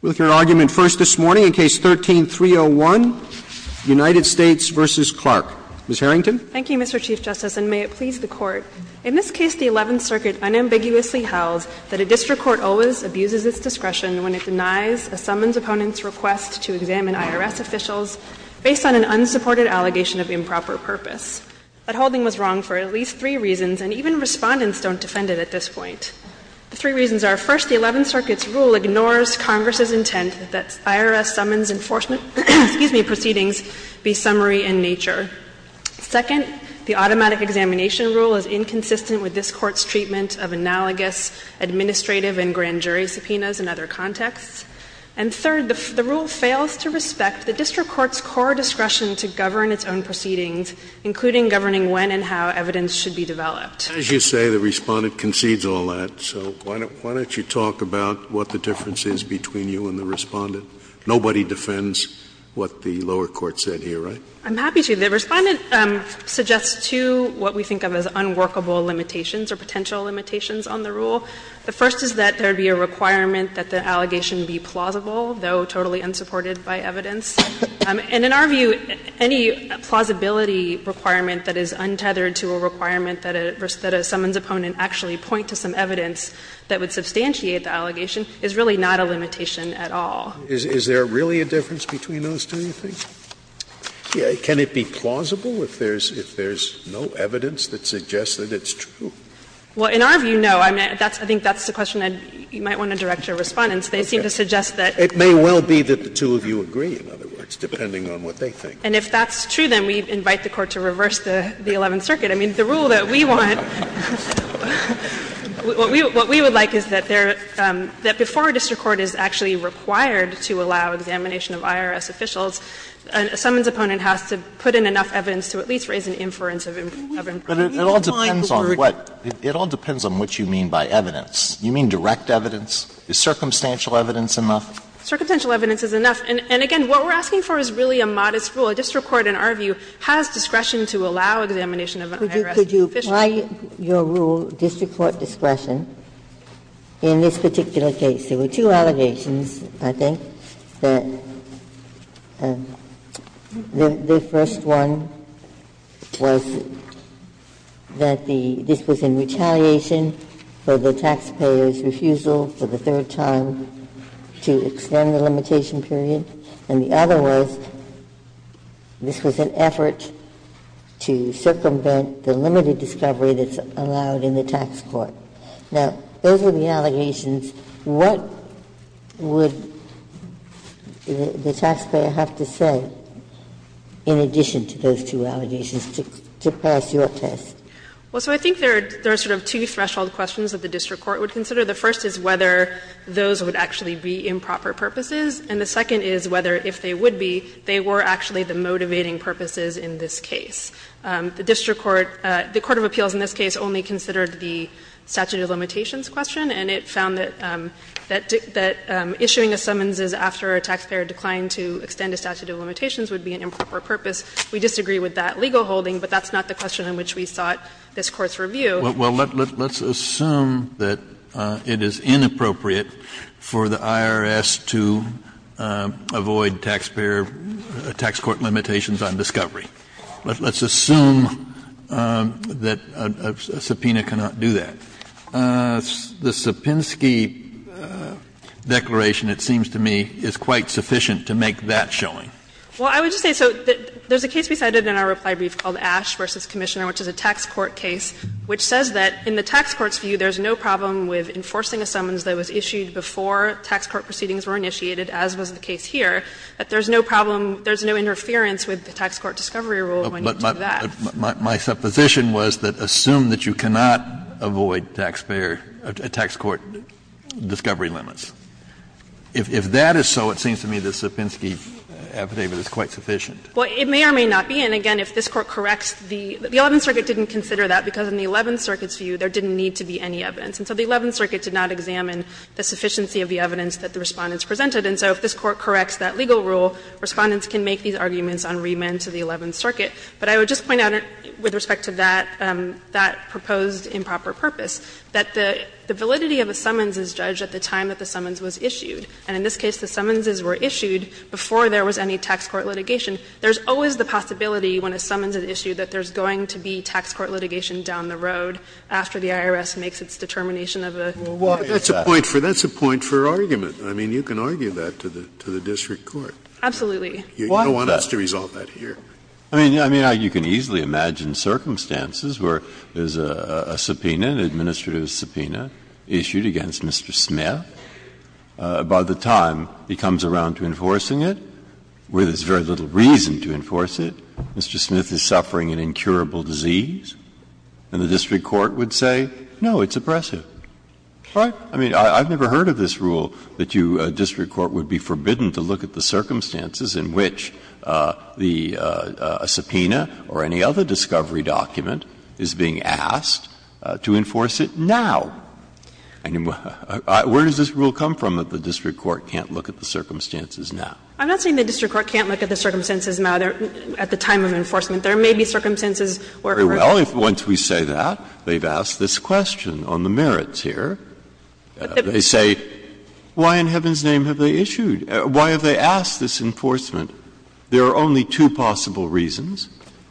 With your argument first this morning, in Case 13-301, United States v. Clarke. Ms. Harrington. Thank you, Mr. Chief Justice, and may it please the Court. In this case, the Eleventh Circuit unambiguously held that a district court always abuses its discretion when it denies a summons opponent's request to examine IRS officials based on an unsupported allegation of improper purpose. That holding was wrong for at least three reasons, and even Respondents don't defend it at this point. The three reasons are, first, the Eleventh Circuit's rule ignores Congress's intent that IRS summons enforcement – excuse me – proceedings be summary in nature. Second, the automatic examination rule is inconsistent with this Court's treatment of analogous administrative and grand jury subpoenas in other contexts. And third, the rule fails to respect the district court's core discretion to govern its own proceedings, including governing when and how evidence should be developed. Scalia. As you say, the Respondent concedes all that. So why don't you talk about what the difference is between you and the Respondent? Nobody defends what the lower court said here, right? I'm happy to. The Respondent suggests two what we think of as unworkable limitations or potential limitations on the rule. The first is that there would be a requirement that the allegation be plausible, though totally unsupported by evidence. And in our view, any plausibility requirement that is untethered to a requirement that a summons opponent actually point to some evidence that would substantiate the allegation is really not a limitation at all. Is there really a difference between those two, do you think? Can it be plausible if there's no evidence that suggests that it's true? Well, in our view, no. I think that's the question that you might want to direct your Respondents. They seem to suggest that. It may well be that the two of you agree, in other words, depending on what they think. And if that's true, then we invite the Court to reverse the Eleventh Circuit. I mean, the rule that we want, what we would like is that before a district court is actually required to allow examination of IRS officials, a summons opponent has to put in enough evidence to at least raise an inference of improperty. But it all depends on what you mean by evidence. You mean direct evidence? Is circumstantial evidence enough? Circumstantial evidence is enough. And again, what we're asking for is really a modest rule. A district court, in our view, has discretion to allow examination of an IRS official. Ginsburg-Coperty Could you apply your rule, district court discretion, in this particular case? There were two allegations, I think, that the first one was that the this was in retaliation for the taxpayer's refusal for the third time to extend the limitation period. And the other was this was an effort to circumvent the limited discovery that's allowed in the tax court. Now, those are the allegations. What would the taxpayer have to say in addition to those two allegations to pass your test? Well, so I think there are sort of two threshold questions that the district court would consider. The first is whether those would actually be improper purposes, and the second is whether, if they would be, they were actually the motivating purposes in this case. The district court, the court of appeals in this case only considered the statute of limitations question, and it found that issuing a summonses after a taxpayer declined to extend a statute of limitations would be an improper purpose. We disagree with that legal holding, but that's not the question in which we sought this Court's review. Kennedy, let's assume that it is inappropriate for the IRS to avoid taxpayer tax court limitations on discovery. Let's assume that a subpoena cannot do that. The Sapinski declaration, it seems to me, is quite sufficient to make that showing. Well, I would just say, so there's a case we cited in our reply brief called Ash v. Commissioner, which is a tax court case, which says that in the tax court's view, there's no problem with enforcing a summons that was issued before tax court proceedings were initiated, as was the case here, that there's no problem, there's no interference with the tax court discovery rule when you do that. But my supposition was that assume that you cannot avoid taxpayer tax court discovery limits. If that is so, it seems to me the Sapinski affidavit is quite sufficient. Well, it may or may not be. And again, if this Court corrects the 11th Circuit didn't consider that, because in the 11th Circuit's view, there didn't need to be any evidence. And so the 11th Circuit did not examine the sufficiency of the evidence that the Respondents presented. And so if this Court corrects that legal rule, Respondents can make these arguments on remand to the 11th Circuit. But I would just point out, with respect to that, that proposed improper purpose, that the validity of a summons is judged at the time that the summons was issued. And in this case, the summonses were issued before there was any tax court litigation. There's always the possibility when a summons is issued that there's going to be tax court litigation down the road after the IRS makes its determination of a process. Scalia, that's a point for argument. I mean, you can argue that to the district court. Absolutely. You don't want us to resolve that here. Breyer, I mean, you can easily imagine circumstances where there's a subpoena, an administrative subpoena, issued against Mr. Smith, by the time he comes around to enforcing it, where there's very little reason to enforce it. Mr. Smith is suffering an incurable disease, and the district court would say, no, it's oppressive. Right? I mean, I've never heard of this rule that you, a district court, would be forbidden to look at the circumstances in which the subpoena or any other discovery document is being asked to enforce it now. I mean, where does this rule come from that the district court can't look at the circumstances now? I'm not saying the district court can't look at the circumstances now, at the time of enforcement. There may be circumstances where it would. Very well. Once we say that, they've asked this question on the merits here. They say, why in heaven's name have they issued? Why have they asked this enforcement? There are only two possible reasons.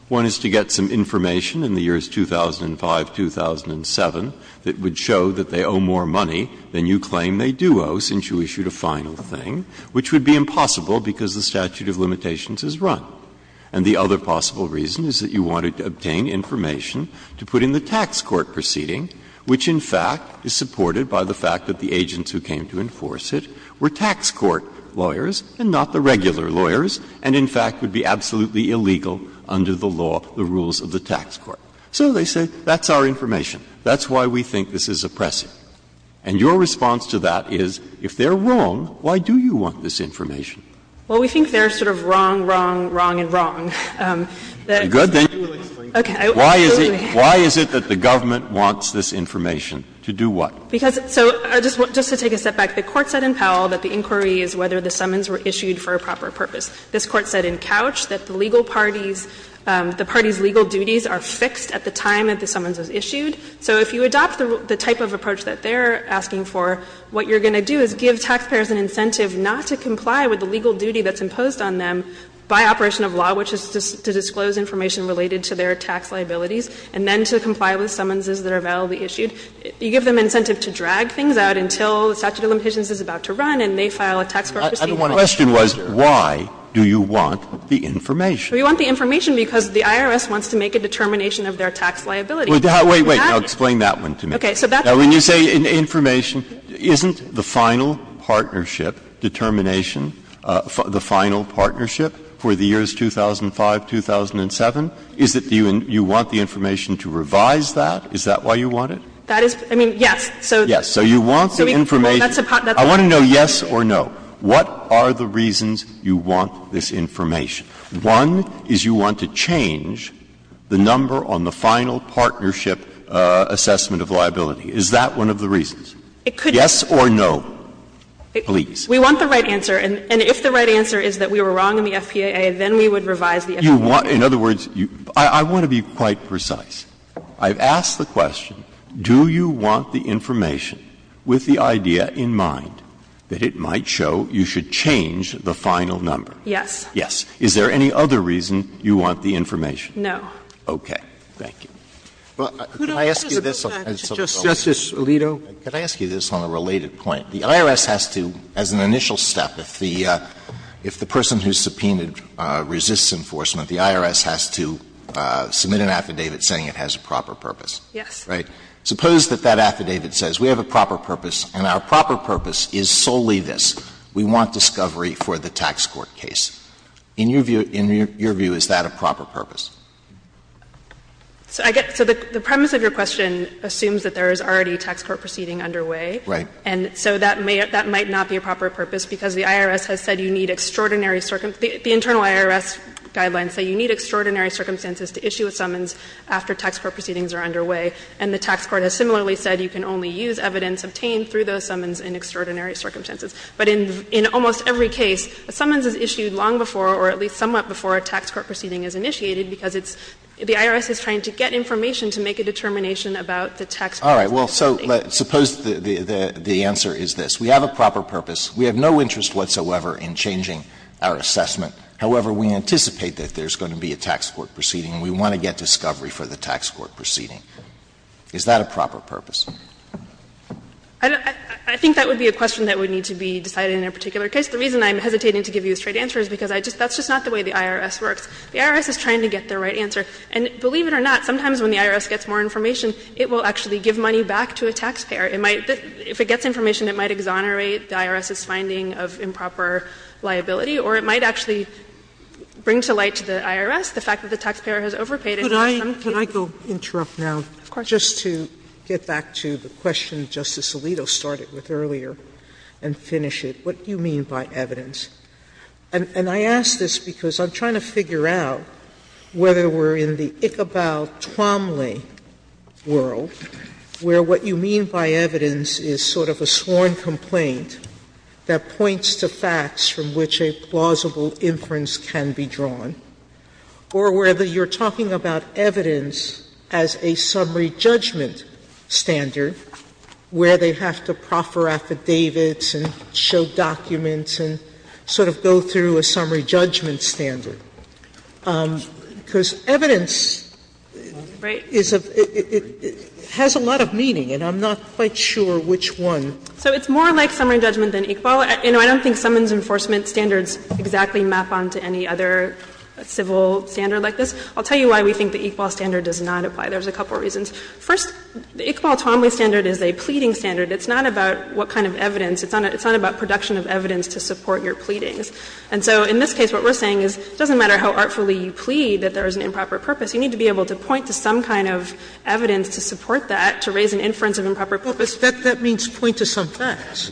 One is to get some information in the years 2005, 2007 that would show that they owe more money than you claim they do owe since you issued a final thing, which would be impossible because the statute of limitations is run. And the other possible reason is that you wanted to obtain information to put in the tax court proceeding, which, in fact, is supported by the fact that the agents who came to enforce it were tax court lawyers and not the regular lawyers, and, in fact, would be absolutely illegal under the law, the rules of the tax court. So they say, that's our information. That's why we think this is oppressive. And your response to that is, if they're wrong, why do you want this information? Well, we think they're sort of wrong, wrong, wrong, and wrong. You're good, then? Okay. Why is it that the government wants this information? To do what? Because so, just to take a step back, the Court said in Powell that the inquiry is whether the summons were issued for a proper purpose. This Court said in Couch that the legal parties, the parties' legal duties are fixed at the time that the summons was issued. So if you adopt the type of approach that they're asking for, what you're going to do is give taxpayers an incentive not to comply with the legal duty that's imposed on them by operation of law, which is to disclose information related to their tax liabilities, and then to comply with summonses that are validly issued. You give them incentive to drag things out until the statute of limitations is about to run and they file a tax court proceeding. The question was, why do you want the information? We want the information because the IRS wants to make a determination of their tax liability. Breyer. Wait, wait. Now explain that one to me. Now, when you say information, isn't the final partnership determination the final partnership for the years 2005, 2007? Is it you want the information to revise that? Is that why you want it? That is, I mean, yes. So. Yes. So you want the information. I want to know yes or no. What are the reasons you want this information? One is you want to change the number on the final partnership assessment of liability. Is that one of the reasons? Yes or no? Please. We want the right answer. And if the right answer is that we were wrong in the FPAA, then we would revise the FPAA. You want to be quite precise. I've asked the question, do you want the information with the idea in mind that it might show you should change the final number? Yes. Yes. Is there any other reason you want the information? No. Okay. Thank you. Well, can I ask you this? Justice Alito. Can I ask you this on a related point? The IRS has to, as an initial step, if the person who subpoenaed resists enforcement, the IRS has to submit an affidavit saying it has a proper purpose. Yes. Right? Suppose that that affidavit says we have a proper purpose, and our proper purpose is solely this, we want discovery for the tax court case. In your view, is that a proper purpose? So the premise of your question assumes that there is already a tax court proceeding underway. Right. And so that might not be a proper purpose because the IRS has said you need extraordinary the internal IRS guidelines say you need extraordinary circumstances to issue a summons after tax court proceedings are underway. And the tax court has similarly said you can only use evidence obtained through those summons in extraordinary circumstances. But in almost every case, a summons is issued long before or at least somewhat before a tax court proceeding is initiated because it's the IRS is trying to get information to make a determination about the tax court proceeding. All right. Well, so suppose the answer is this. We have a proper purpose. We have no interest whatsoever in changing our assessment. However, we anticipate that there's going to be a tax court proceeding, and we want to get discovery for the tax court proceeding. Is that a proper purpose? I think that would be a question that would need to be decided in a particular case. The reason I'm hesitating to give you a straight answer is because that's just not the way the IRS works. The IRS is trying to get the right answer. And believe it or not, sometimes when the IRS gets more information, it will actually give money back to a taxpayer. It might be that if it gets information, it might exonerate the IRS's finding of improper liability, or it might actually bring to light to the IRS the fact that the taxpayer has overpaid it. Sotomayor, could I go interrupt now, just to get back to the question Justice Alito started with earlier, and finish it. What do you mean by evidence? And I ask this because I'm trying to figure out whether we're in the Ichabal-Twamle world, where what you mean by evidence is sort of a sworn complaint that points to facts from which a plausible inference can be drawn, or whether you're talking about evidence as a summary judgment standard, where they have to proffer affidavits and show documents and sort of go through a summary judgment standard. Because evidence is a – has a lot of meaning, and I'm not quite sure which one. So it's more like summary judgment than Ichabal. I don't think summons enforcement standards exactly map on to any other civil standard like this. I'll tell you why we think the Ichabal standard does not apply. There's a couple of reasons. First, the Ichabal-Twamle standard is a pleading standard. It's not about what kind of evidence. It's not about production of evidence to support your pleadings. And so in this case, what we're saying is it doesn't matter how artfully you plead that there is an improper purpose. You need to be able to point to some kind of evidence to support that, to raise an inference of improper purpose. Sotomayor, that means point to some facts.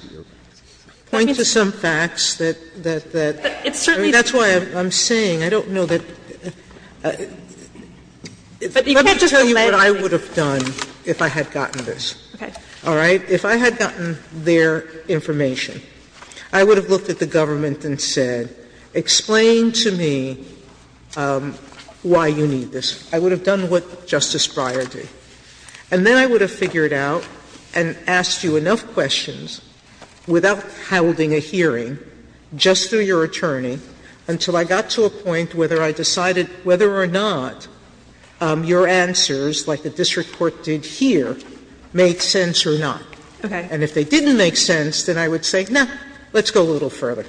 Point to some facts that – that – that's why I'm saying. I don't know that – let me tell you what I would have done if I had gotten this. All right? If I had gotten their information, I would have looked at the government and said, explain to me why you need this. I would have done what Justice Breyer did. And then I would have figured out and asked you enough questions without holding a hearing, just through your attorney, until I got to a point whether I decided whether or not your answers, like the district court did here, made sense or not. And if they didn't make sense, then I would say, no, let's go a little further.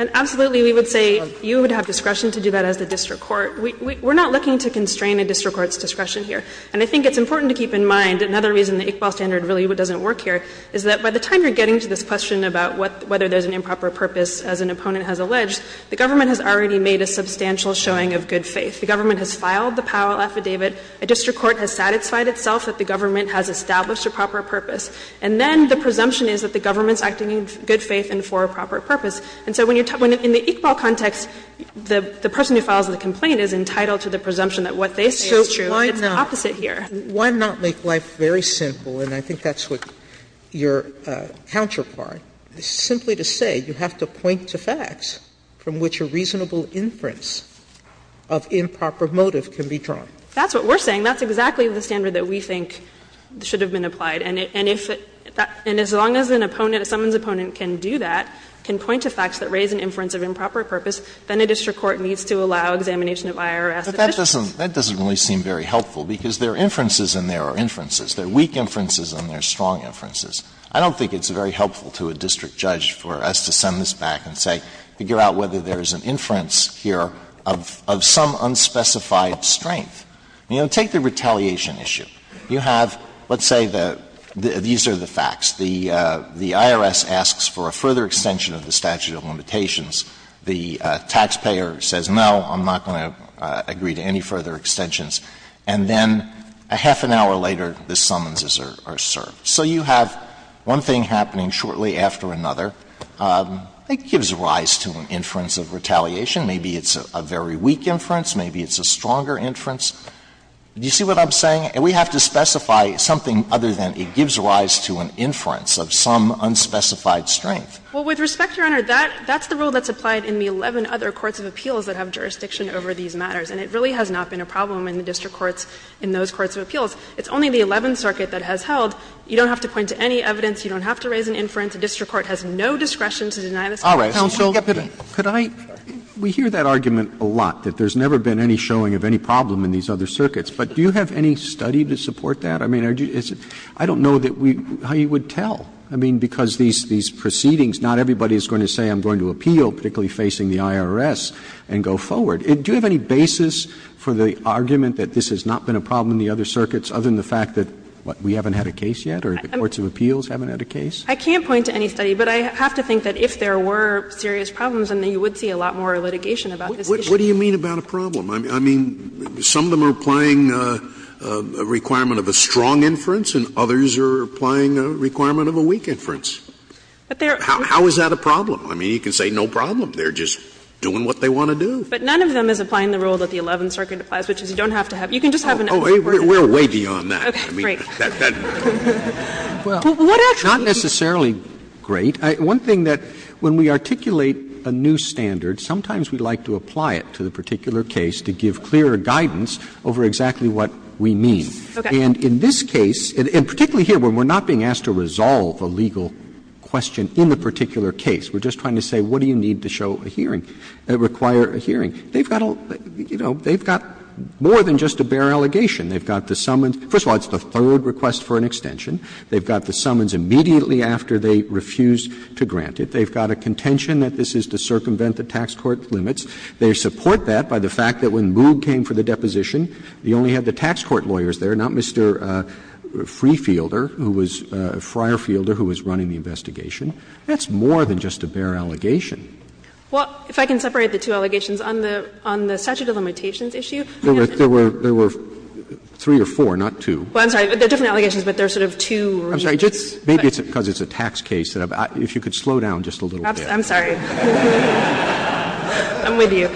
And absolutely, we would say you would have discretion to do that as the district court. We're not looking to constrain a district court's discretion here. And I think it's important to keep in mind, another reason the Ichabal standard really doesn't work here, is that by the time you're getting to this question about whether there's an improper purpose, as an opponent has alleged, the government has already made a substantial showing of good faith. The government has filed the Powell affidavit. A district court has satisfied itself that the government has established a proper purpose. And then the presumption is that the government's acting in good faith and for a proper purpose. And so when you're – in the Ichabal context, the person who files the complaint is entitled to the presumption that what they say is true. It's the opposite here. Sotomayor, why not make life very simple, and I think that's what your counterpart is trying to do, is simply to say you have to point to facts from which a reasonable inference of improper motive can be drawn. That's what we're saying. That's exactly the standard that we think should have been applied. And if – and as long as an opponent, someone's opponent can do that, can point to facts that raise an inference of improper purpose, then a district court needs to allow examination of IRS. But that doesn't – that doesn't really seem very helpful, because there are inferences and there are inferences. There are weak inferences and there are strong inferences. I don't think it's very helpful to a district judge for us to send this back and say, figure out whether there is an inference here of some unspecified strength. You know, take the retaliation issue. You have, let's say the – these are the facts. The IRS asks for a further extension of the statute of limitations. The taxpayer says, no, I'm not going to agree to any further extensions. And then a half an hour later, the summonses are served. So you have one thing happening shortly after another. It gives rise to an inference of retaliation. Maybe it's a very weak inference. Maybe it's a stronger inference. Do you see what I'm saying? We have to specify something other than it gives rise to an inference of some unspecified strength. Well, with respect, Your Honor, that's the rule that's applied in the 11 other courts of appeals that have jurisdiction over these matters. And it really has not been a problem in the district courts in those courts of appeals. It's only the 11th Circuit that has held you don't have to point to any evidence, you don't have to raise an inference, the district court has no discretion to deny this case. Roberts Counsel, could I – we hear that argument a lot, that there's never been any showing of any problem in these other circuits. But do you have any study to support that? I mean, I don't know that we – how you would tell. I mean, because these proceedings, not everybody is going to say I'm going to appeal, particularly facing the IRS, and go forward. Do you have any basis for the argument that this has not been a problem in the other circuits, other than the fact that we haven't had a case yet, or the courts of appeals haven't had a case? I can't point to any study, but I have to think that if there were serious problems, then you would see a lot more litigation about this issue. What do you mean about a problem? I mean, some of them are applying a requirement of a strong inference, and others are applying a requirement of a weak inference. How is that a problem? I mean, you can say no problem. They're just doing what they want to do. But none of them is applying the rule that the 11th Circuit applies, which is you don't have to have – you can just have an unsupported rule. We're way beyond that. I mean, that doesn't matter. Well, not necessarily great. One thing that, when we articulate a new standard, sometimes we like to apply it to the particular case to give clearer guidance over exactly what we mean. And in this case, and particularly here, when we're not being asked to resolve a legal question in the particular case, we're just trying to say what do you need to show a hearing, require a hearing. They've got a – you know, they've got more than just a bare allegation. They've got the summons – first of all, it's the third request for an extension. They've got the summons immediately after they refuse to grant it. They've got a contention that this is to circumvent the tax court limits. They support that by the fact that when Moog came for the deposition, he only had the tax court lawyers there, not Mr. Freefielder, who was – Friarfielder, who was running the investigation. That's more than just a bare allegation. Well, if I can separate the two allegations on the – on the statute of limitations issue. There were – there were three or four, not two. Well, I'm sorry. They're different allegations, but they're sort of two reasons. I'm sorry. Maybe it's because it's a tax case. If you could slow down just a little bit. I'm sorry. I'm with you.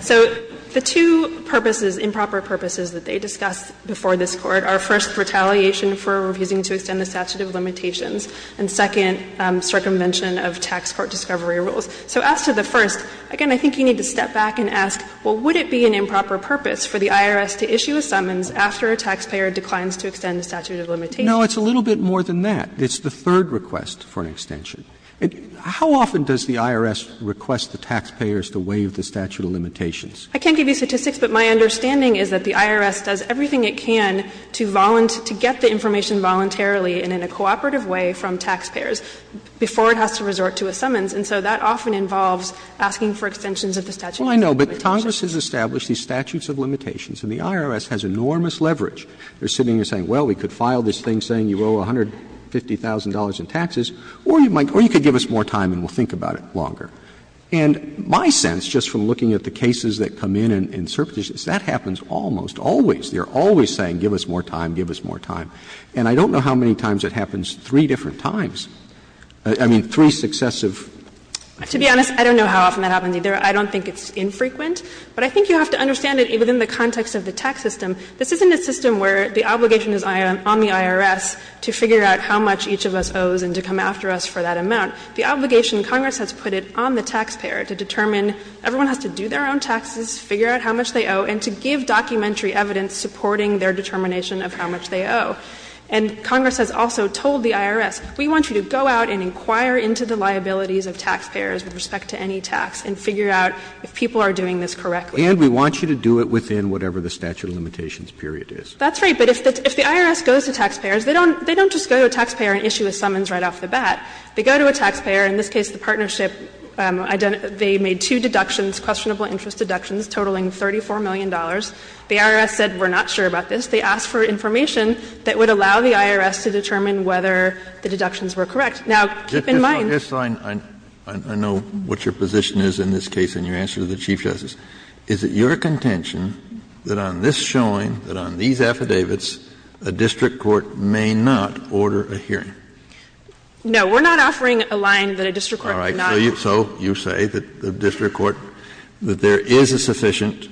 So the two purposes, improper purposes, that they discuss before this Court are, first, retaliation for refusing to extend the statute of limitations, and second, circumvention of tax court discovery rules. So as to the first, again, I think you need to step back and ask, well, would it be an improper purpose for the IRS to issue a summons after a taxpayer declines to extend the statute of limitations? No, it's a little bit more than that. It's the third request for an extension. How often does the IRS request the taxpayers to waive the statute of limitations? I can't give you statistics, but my understanding is that the IRS does everything it can to get the information voluntarily and in a cooperative way from taxpayers before it has to resort to a summons. And so that often involves asking for extensions of the statute of limitations. Roberts. Well, I know, but Congress has established these statutes of limitations, and the IRS has enormous leverage. They're sitting there saying, well, we could file this thing saying you owe $150,000 in taxes, or you could give us more time and we'll think about it longer. And my sense, just from looking at the cases that come in and certifications, that happens almost always. They're always saying give us more time, give us more time. And I don't know how many times it happens three different times. I mean, three successive. To be honest, I don't know how often that happens either. I don't think it's infrequent. But I think you have to understand it within the context of the tax system. This isn't a system where the obligation is on the IRS to figure out how much each of us owes and to come after us for that amount. The obligation, Congress has put it on the taxpayer to determine, everyone has to do their own taxes, figure out how much they owe, and to give documentary evidence supporting their determination of how much they owe. And Congress has also told the IRS, we want you to go out and inquire into the liabilities of taxpayers with respect to any tax and figure out if people are doing this correctly. Roberts. And we want you to do it within whatever the statute of limitations period is. That's right. But if the IRS goes to taxpayers, they don't just go to a taxpayer and issue a summons right off the bat. They go to a taxpayer, in this case the partnership, they made two deductions, questionable interest deductions, totaling $34 million. The IRS said we're not sure about this. They asked for information that would allow the IRS to determine whether the deductions were correct. Now, keep in mind. Kennedy, I know what your position is in this case in your answer to the Chief Justice. Is it your contention that on this showing, that on these affidavits, a district court may not order a hearing? No, we're not offering a line that a district court may not. So you say that the district court, that there is a sufficient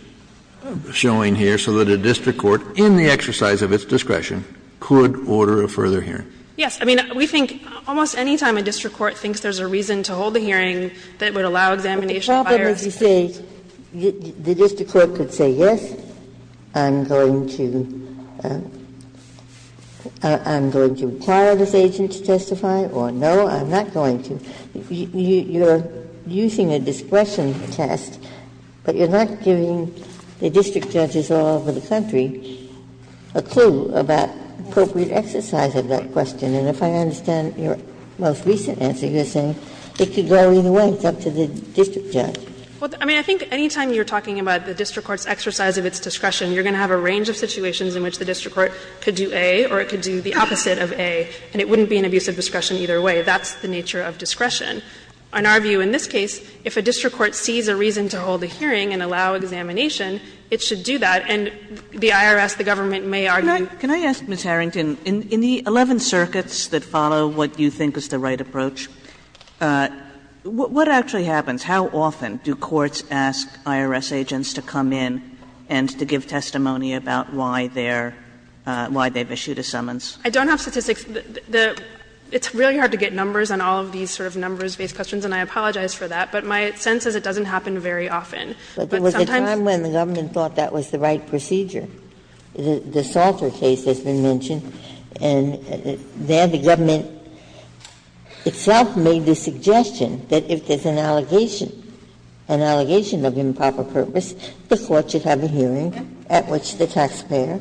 showing here so that a district court, in the exercise of its discretion, could order a further hearing? Yes. I mean, we think almost any time a district court thinks there's a reason to hold a hearing that would allow examination of IRS discretion. The problem is you say the district court could say, yes, I'm going to, I'm going to require this agent to testify, or no, I'm not going to. You're using a discretion test, but you're not giving the district judges all over the country a clue about appropriate exercise of that question. And if I understand your most recent answer, you're saying it could go either way, it's up to the district judge. Well, I mean, I think any time you're talking about the district court's exercise of its discretion, you're going to have a range of situations in which the district court could do A or it could do the opposite of A, and it wouldn't be an abuse of discretion either way. That's the nature of discretion. In our view in this case, if a district court sees a reason to hold a hearing and allow examination, it should do that, and the IRS, the government, may argue. Kagan. Can I ask, Ms. Harrington, in the 11 circuits that follow what you think is the right approach, what actually happens? How often do courts ask IRS agents to come in and to give testimony about why they're why they've issued a summons? I don't have statistics. It's really hard to get numbers on all of these sort of numbers-based questions, and I apologize for that. But my sense is it doesn't happen very often. But sometimes- Ginsburg. But there was a time when the government thought that was the right procedure. The Salter case has been mentioned, and there the government itself made the suggestion that if there's an allegation, an allegation of improper purpose, the court should have a hearing at which the taxpayer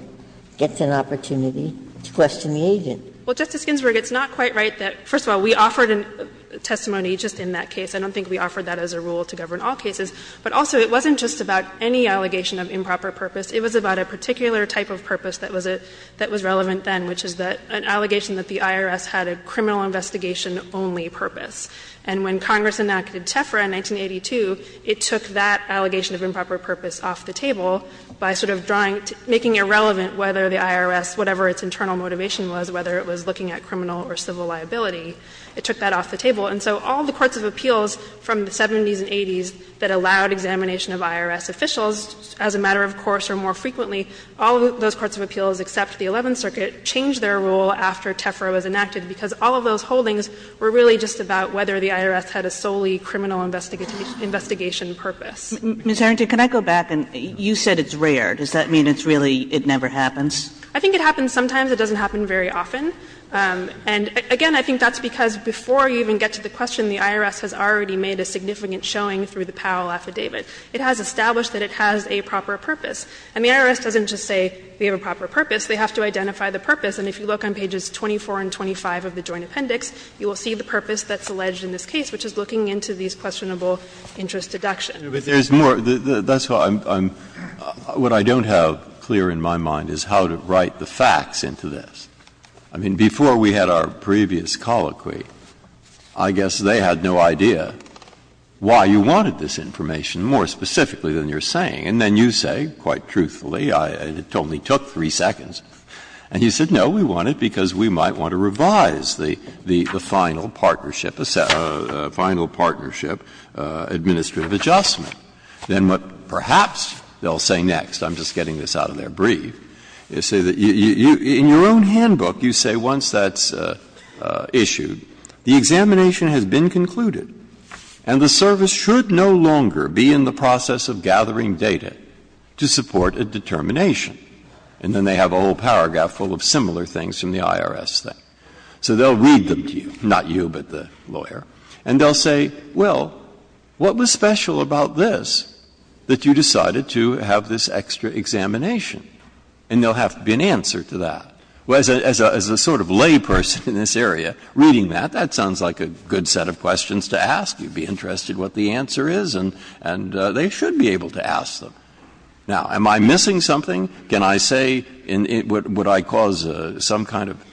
gets an opportunity to question the agent. Well, Justice Ginsburg, it's not quite right that, first of all, we offered a testimony just in that case. I don't think we offered that as a rule to govern all cases. But also, it wasn't just about any allegation of improper purpose. It was about a particular type of purpose that was relevant then, which is an allegation that the IRS had a criminal investigation only purpose. And when Congress enacted TEFRA in 1982, it took that allegation of improper purpose off the table by sort of drawing to – making irrelevant whether the IRS, whatever its internal motivation was, whether it was looking at criminal or civil liability. It took that off the table. And so all the courts of appeals from the 70s and 80s that allowed examination of IRS officials, as a matter of course or more frequently, all of those courts of appeals except the Eleventh Circuit changed their rule after TEFRA was enacted, because all of those holdings were really just about whether the IRS had a solely criminal investigation purpose. Kagan. Ms. Harrington, can I go back? You said it's rare. Does that mean it's really – it never happens? I think it happens sometimes. It doesn't happen very often. And, again, I think that's because before you even get to the question, the IRS has already made a significant showing through the Powell affidavit. It has established that it has a proper purpose. And the IRS doesn't just say we have a proper purpose. They have to identify the purpose. And if you look on pages 24 and 25 of the Joint Appendix, you will see the purpose that's alleged in this case, which is looking into these questionable interest deductions. Breyer. But there's more. That's how I'm – what I don't have clear in my mind is how to write the facts into this. I mean, before we had our previous colloquy, I guess they had no idea why you wanted this information more specifically than you're saying. And then you say, quite truthfully, it only took three seconds. And you said, no, we want it because we might want to revise the final partnership – final partnership administrative adjustment. Then what perhaps they'll say next, I'm just getting this out of their brief, is say you – in your own handbook, you say once that's issued, the examination has been concluded, and the service should no longer be in the process of gathering data to support a determination. And then they have a whole paragraph full of similar things from the IRS thing. So they'll read them to you, not you, but the lawyer, and they'll say, well, what was special about this that you decided to have this extra examination? And they'll have to be an answer to that. As a sort of layperson in this area, reading that, that sounds like a good set of questions to ask. You'd be interested what the answer is, and they should be able to ask them. Now, am I missing something? Can I say – would I cause some kind of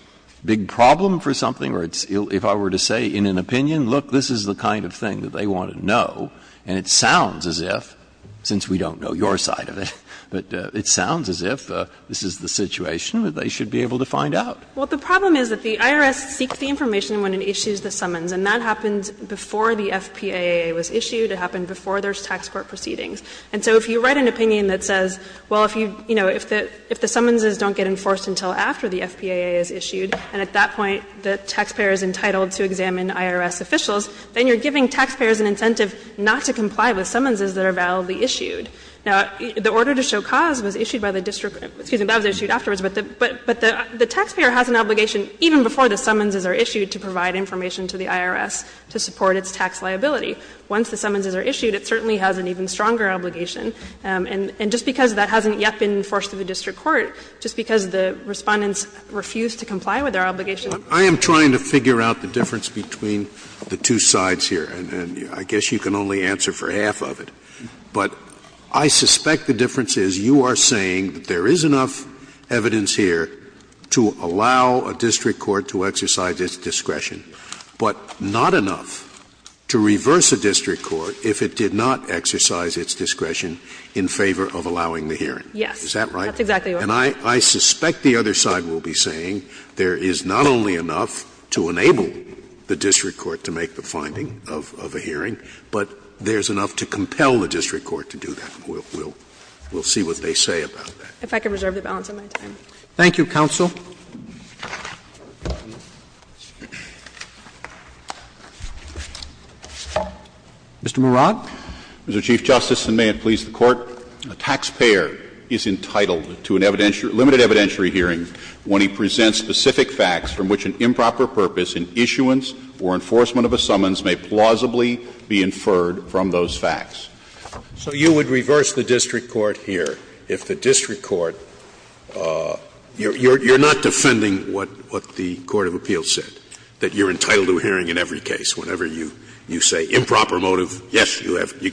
big problem for something? Or if I were to say, in an opinion, look, this is the kind of thing that they want to know, and it sounds as if, since we don't know your side of it, but it sounds as if this is the situation that they should be able to find out. Well, the problem is that the IRS seeks the information when it issues the summons, and that happens before the FPAA was issued. It happened before there's tax court proceedings. And so if you write an opinion that says, well, if you – you know, if the summonses don't get enforced until after the FPAA is issued, and at that point the taxpayer is entitled to examine IRS officials, then you're giving taxpayers an incentive not to comply with summonses that are validly issued. Now, the order to show cause was issued by the district – excuse me, that was issued afterwards, but the taxpayer has an obligation, even before the summonses are issued, to provide information to the IRS to support its tax liability. Once the summonses are issued, it certainly has an even stronger obligation. And just because that hasn't yet been enforced in the district court, just because the Respondents refused to comply with their obligation. Scalia. I am trying to figure out the difference between the two sides here, and I guess you can only answer for half of it. But I suspect the difference is you are saying that there is enough evidence here to allow a district court to exercise its discretion, but not enough to reverse a district court if it did not exercise its discretion in favor of allowing the hearing. Yes. Is that right? That's exactly right. And I suspect the other side will be saying there is not only enough to enable the district court to make the finding of a hearing, but there's enough to compel the district court to do that. We'll see what they say about that. If I can reserve the balance of my time. Thank you, counsel. Mr. Murad. Mr. Chief Justice, and may it please the Court, a taxpayer is entitled to a limited evidentiary hearing when he presents specific facts from which an improper purpose in issuance or enforcement of a summons may plausibly be inferred from those facts. So you would reverse the district court here if the district court you're not defending what the court of appeals said, that you're entitled to a hearing in every case, whenever you say improper motive, yes, you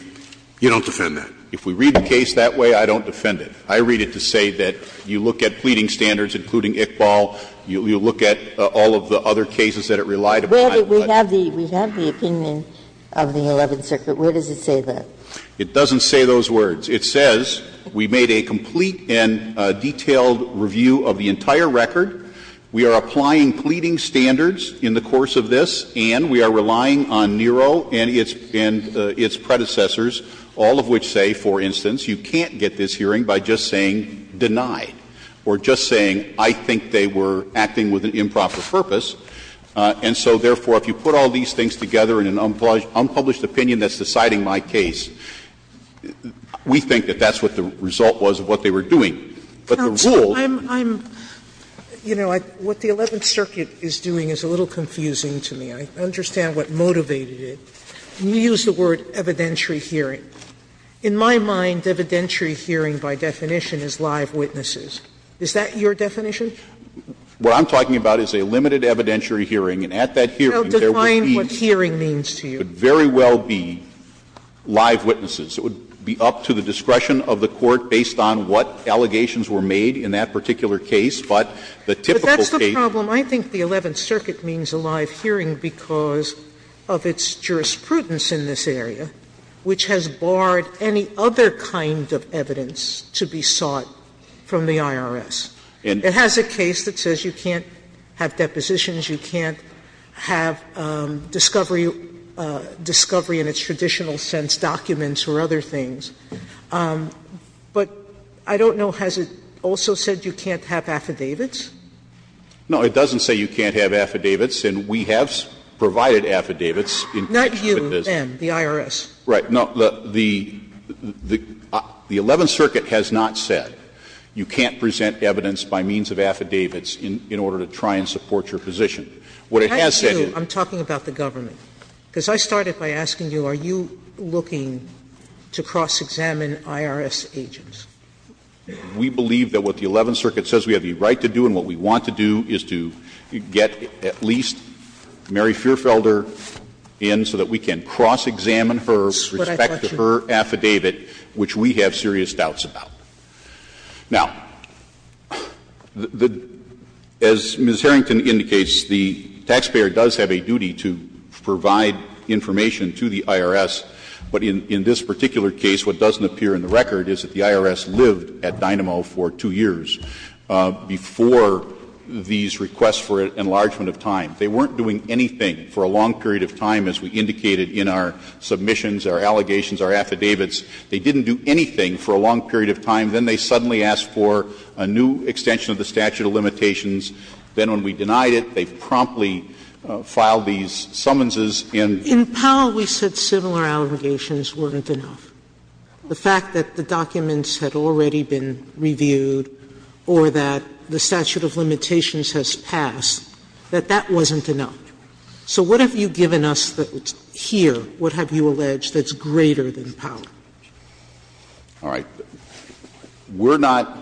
don't defend that. If we read the case that way, I don't defend it. I read it to say that you look at pleading standards, including Iqbal, you look at all of the other cases that it relied upon. We have the opinion of the Eleventh Circuit. Where does it say that? It doesn't say those words. It says we made a complete and detailed review of the entire record. We are applying pleading standards in the course of this, and we are relying on NERO and its predecessors, all of which say, for instance, you can't get this hearing by just saying denied, or just saying I think they were acting with an improper purpose. And so, therefore, if you put all these things together in an unpublished opinion that's deciding my case, we think that that's what the result was of what they were doing. But the rules that I'm going to use here, I'm going to use the word evidentiary hearing. Sotomayor, I'm going to use the word evidentiary hearing by just saying denied. The second part of my definition is live witnesses. Is that your definition? What I'm talking about is a limited evidentiary hearing. And at that hearing, there would be. I'll define what hearing means to you. It would very well be live witnesses. It would be up to the discretion of the Court based on what allegations were made in that particular case. But the typical case. But that's the problem. Sotomayor, I think the Eleventh Circuit means a live hearing because of its jurisprudence in this area, which has barred any other kind of evidence to be sought from the IRS. It has a case that says you can't have depositions, you can't have discovery in its traditional sense, documents or other things. But I don't know, has it also said you can't have affidavits? No, it doesn't say you can't have affidavits, and we have provided affidavits in case it does. Sotomayor, not you, then, the IRS. Right. No, the Eleventh Circuit has not said you can't present evidence by means of affidavits in order to try and support your position. What it has said is. I'm talking about the government. Because I started by asking you, are you looking to cross-examine IRS agents? We believe that what the Eleventh Circuit says we have the right to do and what we want to do is to get at least Mary Feuerfelder in so that we can cross-examine her with respect to her affidavit, which we have serious doubts about. Now, as Ms. Harrington indicates, the taxpayer does have a duty to provide information to the IRS, but in this particular case, what doesn't appear in the record is that the IRS lived at Dynamo for 2 years before these requests for enlargement of time. They weren't doing anything for a long period of time, as we indicated in our submissions, our allegations, our affidavits. They didn't do anything for a long period of time. Then they suddenly asked for a new extension of the statute of limitations. Then when we denied it, they promptly filed these summonses and. Sotomayor, in Powell, we said similar allegations weren't enough. The fact that the documents had already been reviewed or that the statute of limitations has passed, that that wasn't enough. So what have you given us here? What have you alleged that's greater than Powell? All right. We're not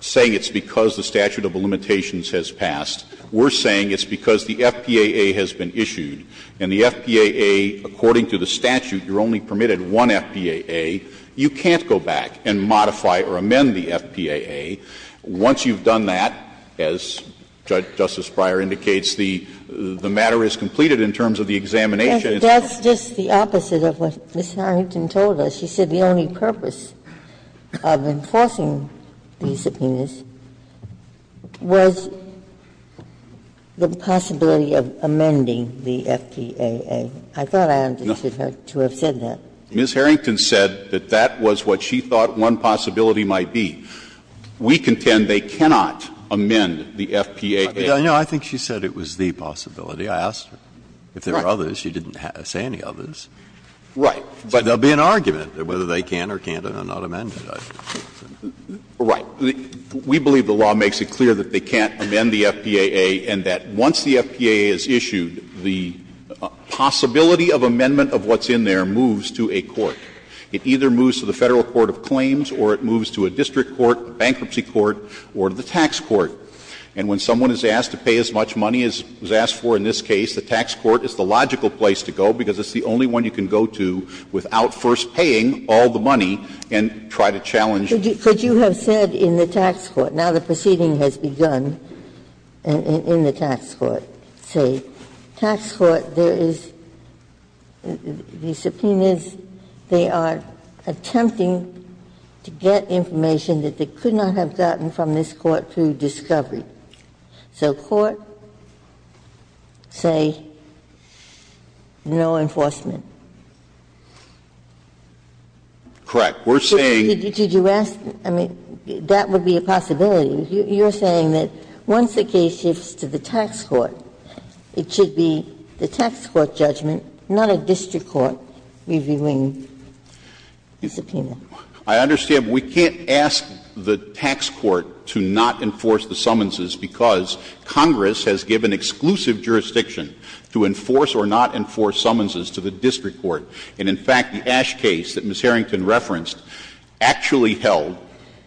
saying it's because the statute of limitations has passed. We're saying it's because the FPAA has been issued, and the FPAA, according to the statute, you're only permitted one FPAA. You can't go back and modify or amend the FPAA. Once you've done that, as Justice Breyer indicates, the matter is completed in terms of the examination. And so that's just the opposite of what Ms. Harrington told us. She said the only purpose of enforcing these subpoenas was the possibility of amending the FPAA. I thought I understood her to have said that. Ms. Harrington said that that was what she thought one possibility might be. We contend they cannot amend the FPAA. I think she said it was the possibility. I asked her if there were others. Right. But there will be an argument. Whether they can or cannot amend it. Right. We believe the law makes it clear that they can't amend the FPAA and that once the FPAA is issued, the possibility of amendment of what's in there moves to a court. It either moves to the Federal court of claims or it moves to a district court, a bankruptcy court, or to the tax court. And when someone is asked to pay as much money as was asked for in this case, the tax court is the logical place to go because it's the only one you can go to without first paying all the money and try to challenge. Could you have said in the tax court, now the proceeding has begun, in the tax court, say, tax court, there is, the subpoenas, they are attempting to get information that they could not have gotten from this court through discovery. So court say no enforcement. Correct. We're saying. Did you ask, I mean, that would be a possibility. You're saying that once the case shifts to the tax court, it should be the tax court judgment, not a district court reviewing the subpoena. I understand. But we can't ask the tax court to not enforce the summonses because Congress has given exclusive jurisdiction to enforce or not enforce summonses to the district court. And in fact, the Ash case that Ms. Harrington referenced actually held,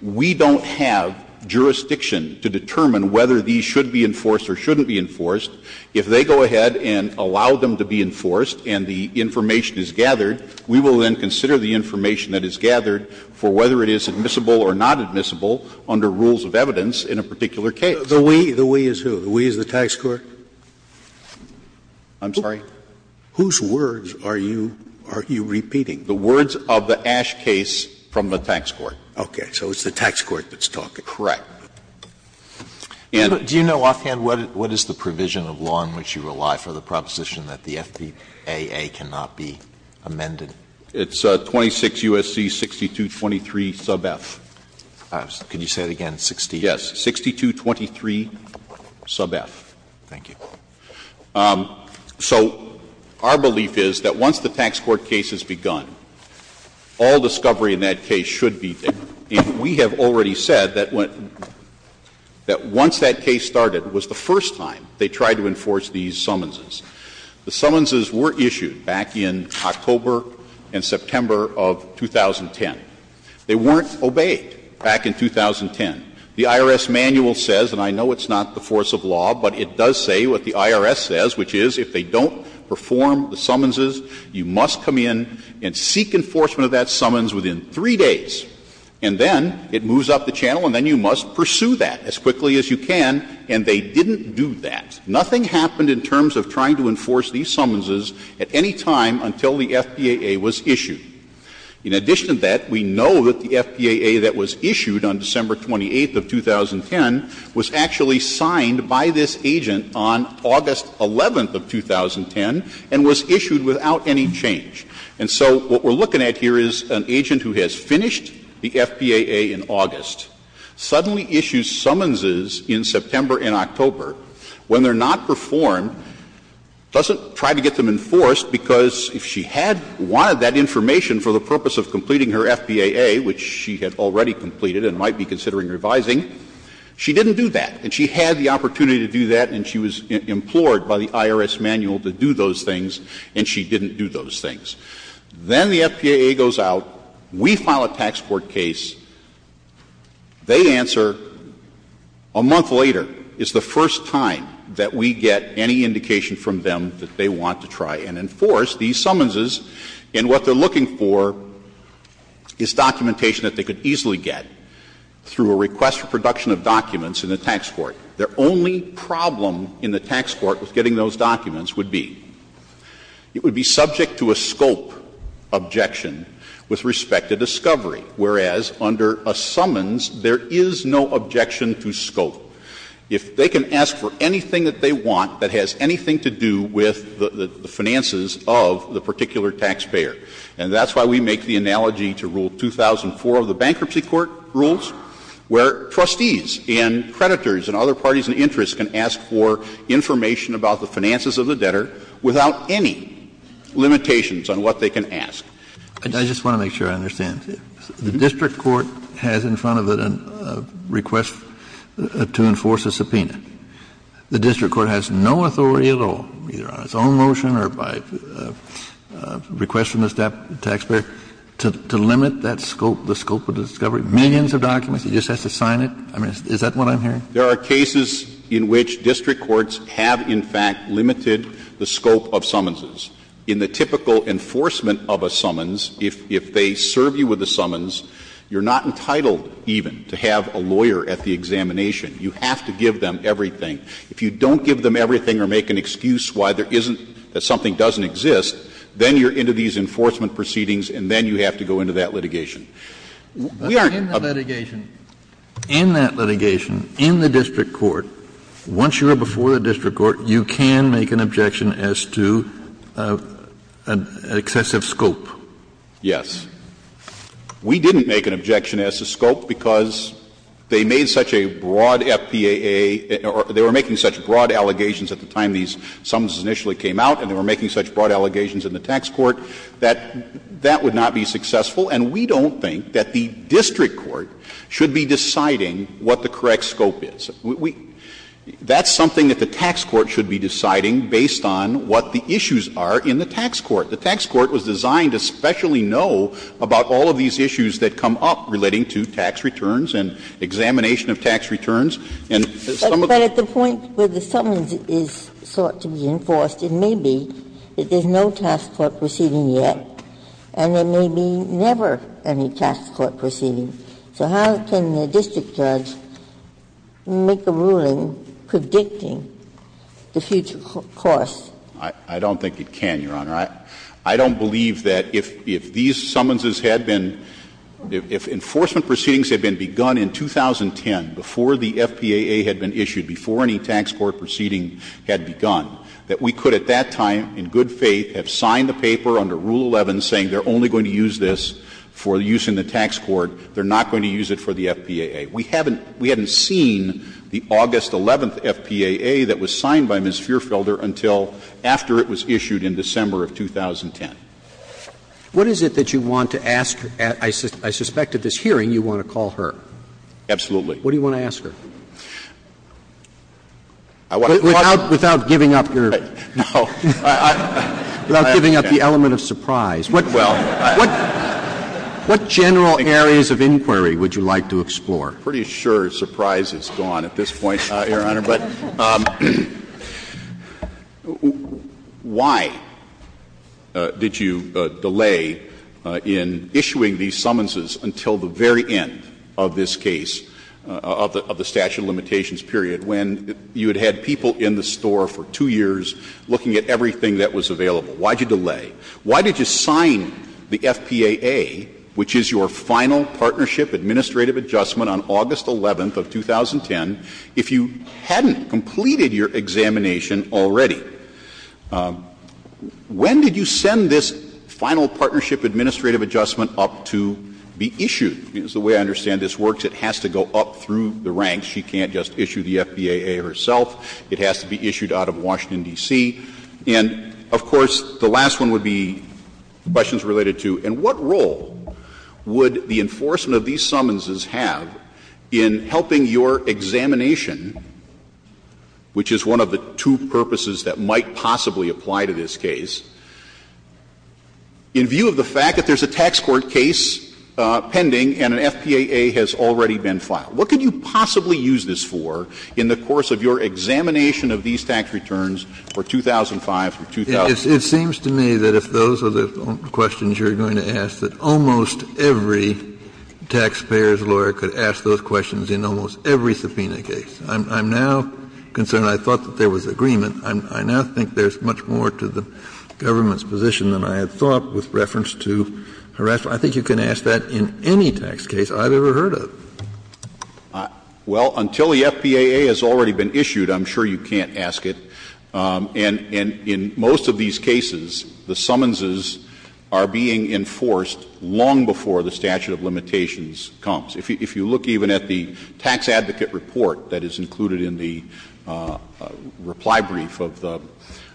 we don't have jurisdiction to determine whether these should be enforced or shouldn't be enforced. If they go ahead and allow them to be enforced and the information is gathered, we will then consider the information that is gathered for whether it is admissible or not admissible under rules of evidence in a particular case. The we, the we is who? The we is the tax court? I'm sorry? Whose words are you, are you repeating? The words of the Ash case from the tax court. Okay. So it's the tax court that's talking. Correct. And. Do you know offhand what is the provision of law in which you rely for the proposition that the FDAA cannot be amended? It's 26 U.S.C. 6223 sub F. Could you say it again, 6223? Yes, 6223 sub F. Thank you. So our belief is that once the tax court case has begun, all discovery in that case should be there. And we have already said that once that case started was the first time they tried to enforce these summonses. The summonses were issued back in October and September of 2010. They weren't obeyed back in 2010. The IRS manual says, and I know it's not the force of law, but it does say what the IRS says, which is if they don't perform the summonses, you must come in and seek enforcement of that summons within 3 days. And then it moves up the channel and then you must pursue that as quickly as you can, and they didn't do that. Nothing happened in terms of trying to enforce these summonses at any time until the FDAA was issued. In addition to that, we know that the FDAA that was issued on December 28th of 2010 was actually signed by this agent on August 11th of 2010 and was issued without any change. And so what we're looking at here is an agent who has finished the FDAA in August, suddenly issues summonses in September and October when they're not performed, doesn't try to get them enforced, because if she had wanted that information for the purpose of completing her FDAA, which she had already completed and might be considering revising, she didn't do that. And she had the opportunity to do that and she was implored by the IRS manual to do those things, and she didn't do those things. Then the FDAA goes out, we file a tax court case, they answer a month later is the indication from them that they want to try and enforce these summonses, and what they're looking for is documentation that they could easily get through a request for production of documents in the tax court. Their only problem in the tax court with getting those documents would be it would be subject to a scope objection with respect to discovery, whereas under a summons there is no objection to scope. If they can ask for anything that they want that has anything to do with the finances of the particular taxpayer, and that's why we make the analogy to Rule 2004 of the Bankruptcy Court rules, where trustees and creditors and other parties in interest can ask for information about the finances of the debtor without any limitations on what they can ask. Kennedy. I just want to make sure I understand. The district court has in front of it a request to enforce a subpoena. The district court has no authority at all, either on its own motion or by request from the taxpayer, to limit that scope, the scope of discovery, millions of documents? It just has to sign it? I mean, is that what I'm hearing? There are cases in which district courts have in fact limited the scope of summonses. In the typical enforcement of a summons, if they serve you with a summons, you're not entitled even to have a lawyer at the examination. You have to give them everything. If you don't give them everything or make an excuse why there isn't, that something doesn't exist, then you're into these enforcement proceedings and then you have to go into that litigation. We are not going to go into that litigation. Kennedy. In that litigation, in the district court, once you are before the district court, you can make an objection as to excessive scope? Yes. We didn't make an objection as to scope because they made such a broad FPAA or they were making such broad allegations at the time these summons initially came out and they were making such broad allegations in the tax court that that would not be successful. And we don't think that the district court should be deciding what the correct scope is. We – that's something that the tax court should be deciding based on what the issues are in the tax court. The tax court was designed to specially know about all of these issues that come up relating to tax returns and examination of tax returns and some of the other things. But at the point where the summons is sought to be enforced, it may be that there is no tax court proceeding yet and there may be never any tax court proceeding. So how can the district judge make a ruling predicting the future costs? I don't think it can, Your Honor. I don't believe that if these summonses had been – if enforcement proceedings had been begun in 2010, before the FPAA had been issued, before any tax court proceeding had begun, that we could at that time, in good faith, have signed the paper under Rule 11 saying they're only going to use this for use in the tax court, they're not going to use it for the FPAA. We haven't – we haven't seen the August 11th FPAA that was signed by Ms. Feerfelder until after it was issued in December of 2010. What is it that you want to ask – I suspect at this hearing you want to call her? Absolutely. What do you want to ask her? Without giving up your – No. Without giving up the element of surprise. What general areas of inquiry would you like to explore? I'm pretty sure surprise is gone at this point, Your Honor. But why did you delay in issuing these summonses until the very end of this case, of the statute of limitations period, when you had had people in the store for 2 years looking at everything that was available? Why did you delay? Why did you sign the FPAA, which is your final partnership administrative adjustment on August 11th of 2010, if you hadn't completed your examination already? When did you send this final partnership administrative adjustment up to be issued? It's the way I understand this works. It has to go up through the ranks. She can't just issue the FPAA herself. It has to be issued out of Washington, D.C. And, of course, the last one would be questions related to, in what role would the enforcement of these summonses have in helping your examination, which is one of the two purposes that might possibly apply to this case, in view of the fact that there's a tax court case pending and an FPAA has already been filed? What could you possibly use this for in the course of your examination of these tax returns for 2005, for 2000? Kennedy, it seems to me that if those are the questions you're going to ask, that almost every taxpayer's lawyer could ask those questions in almost every subpoena case. I'm now concerned, I thought that there was agreement, I now think there's much more to the government's position than I had thought with reference to harassment. I think you can ask that in any tax case I've ever heard of. Well, until the FPAA has already been issued, I'm sure you can't ask it. And in most of these cases, the summonses are being enforced long before the statute of limitations comes. If you look even at the tax advocate report that is included in the reply brief of the —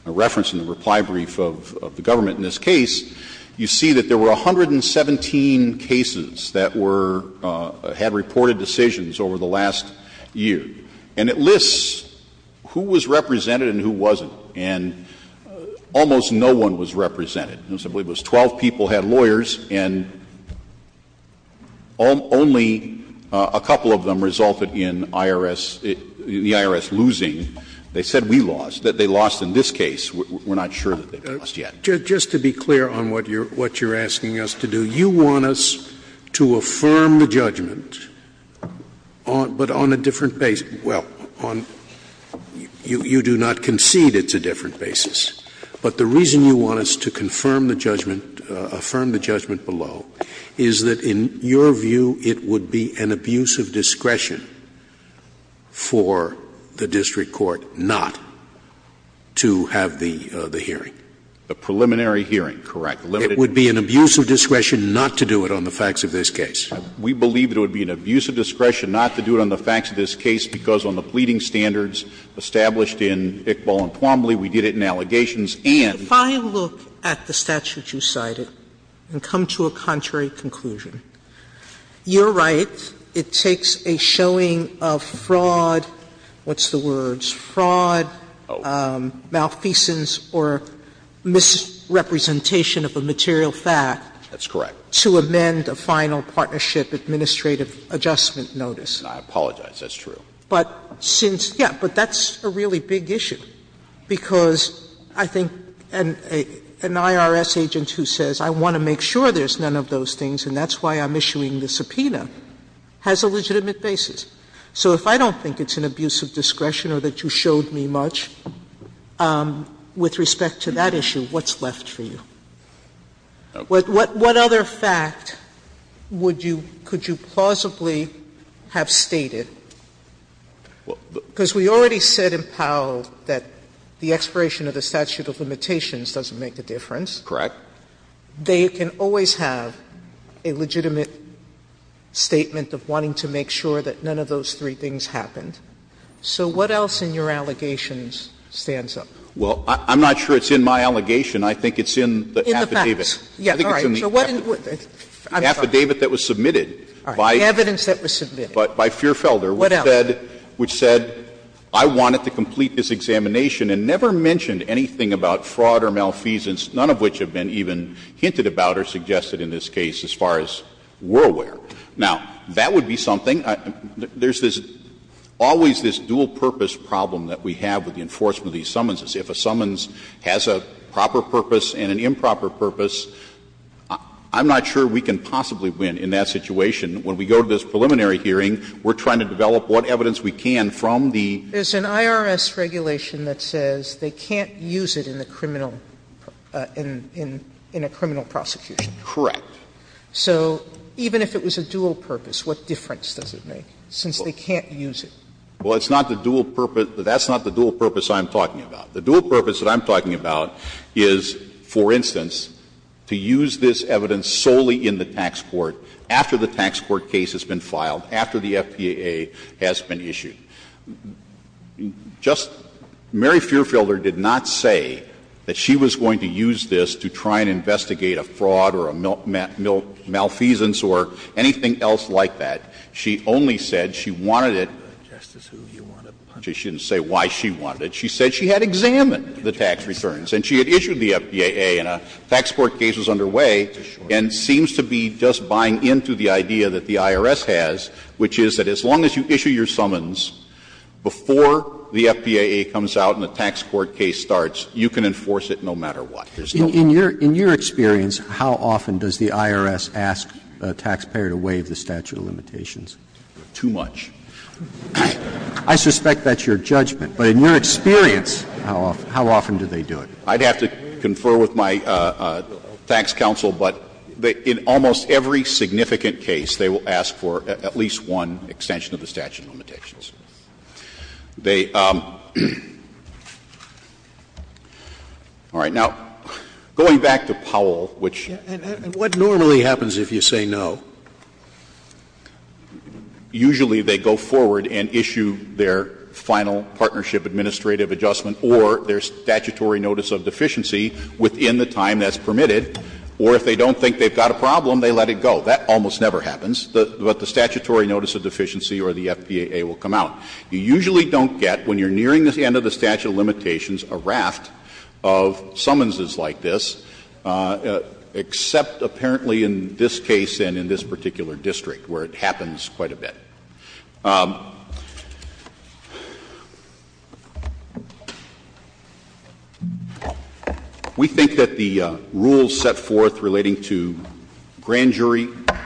a reference in the reply brief of the government in this case, you see that there were 117 cases that were — had reported decisions over the last year. And it lists who was represented and who wasn't. And almost no one was represented. I believe it was 12 people had lawyers, and only a couple of them resulted in IRS — the IRS losing. They said we lost, that they lost in this case. We're not sure that they've lost yet. Just to be clear on what you're — what you're asking us to do, you want us to affirm the judgment on — but on a different — well, on — you do not concede it's a different basis. But the reason you want us to confirm the judgment — affirm the judgment below is that, in your view, it would be an abuse of discretion for the district court not to have the hearing. The preliminary hearing, correct. Limited— It would be an abuse of discretion not to do it on the facts of this case. We believe it would be an abuse of discretion not to do it on the facts of this case because on the pleading standards established in Iqbal and Twombly, we did it in allegations and— If I look at the statute you cited and come to a contrary conclusion, you're right. It takes a showing of fraud — what's the words — fraud, malfeasance, or— Misrepresentation of a material fact— That's correct. —to amend a final partnership administrative adjustment notice. I apologize. That's true. But since — yeah. But that's a really big issue because I think an IRS agent who says, I want to make sure there's none of those things, and that's why I'm issuing the subpoena, has a legitimate basis. So if I don't think it's an abuse of discretion or that you showed me much with respect to that issue, what's left for you? What other fact would you — could you plausibly have stated? Because we already said in Powell that the expiration of the statute of limitations doesn't make a difference. Correct. They can always have a legitimate statement of wanting to make sure that none of those three things happened. So what else in your allegations stands up? Well, I'm not sure it's in my allegation. I think it's in the affidavit. In the facts. Yes. All right. So what in — I'm sorry. The affidavit that was submitted by— All right. The evidence that was submitted. —by Feerfelder, which said— What else? —which said, I wanted to complete this examination and never mentioned anything about fraud or malfeasance, none of which have been even hinted about or suggested in this case as far as we're aware. Now, that would be something. There's this — always this dual-purpose problem that we have with the enforcement of these summonses. If a summons has a proper purpose and an improper purpose, I'm not sure we can possibly win in that situation. When we go to this preliminary hearing, we're trying to develop what evidence we can from the— There's an IRS regulation that says they can't use it in the criminal — in a criminal prosecution. Correct. So even if it was a dual purpose, what difference does it make, since they can't use it? Well, it's not the dual purpose. That's not the dual purpose I'm talking about. The dual purpose that I'm talking about is, for instance, to use this evidence solely in the tax court after the tax court case has been filed, after the FPAA has been issued. Just — Mary Feerfelder did not say that she was going to use this to try and investigate a fraud or a malfeasance or anything else like that. She only said she wanted it. She didn't say why she wanted it. She said she had examined the tax returns, and she had issued the FPAA, and a tax court case was underway, and seems to be just buying into the idea that the IRS has, which is that as long as you issue your summons before the FPAA comes out and the tax court case starts, you can enforce it no matter what. There's no problem. In your experience, how often does the IRS ask a taxpayer to waive the statute of limitations? Too much. I suspect that's your judgment, but in your experience, how often do they do it? I'd have to confer with my tax counsel, but in almost every significant case, they will ask for at least one extension of the statute of limitations. They all right. Now, going back to Powell, which And what normally happens if you say no? Usually they go forward and issue their final partnership administrative adjustment or their statutory notice of deficiency within the time that's permitted, or if they don't think they've got a problem, they let it go. That almost never happens. But the statutory notice of deficiency or the FPAA will come out. You usually don't get, when you're nearing the end of the statute of limitations, a raft of summonses like this, except apparently in this case and in this particular district, where it happens quite a bit. We think that the rules set forth relating to grand jury summons, which are usually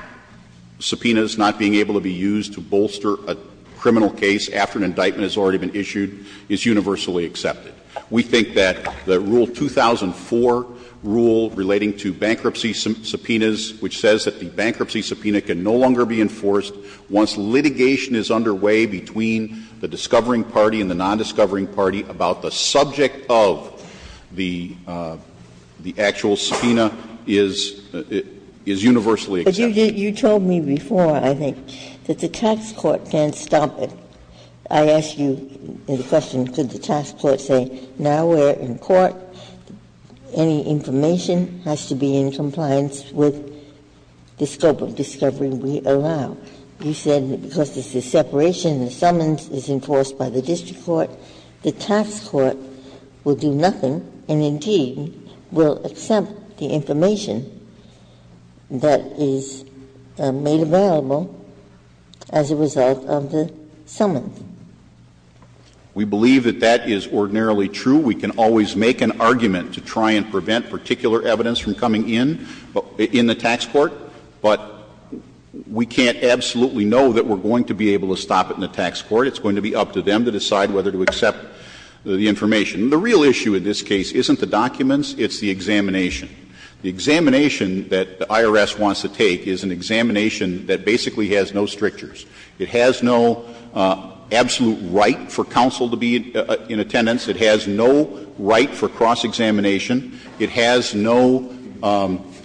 subpoenas not being able to be used to bolster a criminal case after an indictment has already been issued, is universally accepted. We think that the Rule 2004 rule relating to bankruptcy subpoenas, which says that the bankruptcy subpoena can no longer be enforced once litigation is underway between the discovering party and the nondiscovering party about the subject of the actual subpoena, is universally accepted. Ginsburg-Miller, you told me before, I think, that the tax court can't stop it. I asked you the question, could the tax court say, now we're in court, any information has to be in compliance with the scope of discovery we allow? You said that because this is separation, the summons is enforced by the district court, the tax court will do nothing and, indeed, will accept the information that is made available as a result of the summons. We believe that that is ordinarily true. We can always make an argument to try and prevent particular evidence from coming in, in the tax court, but we can't absolutely know that we're going to be able to stop it in the tax court. It's going to be up to them to decide whether to accept the information. The real issue in this case isn't the documents, it's the examination. The examination that the IRS wants to take is an examination that basically has no strictures. It has no absolute right for counsel to be in attendance. It has no right for cross-examination. It has no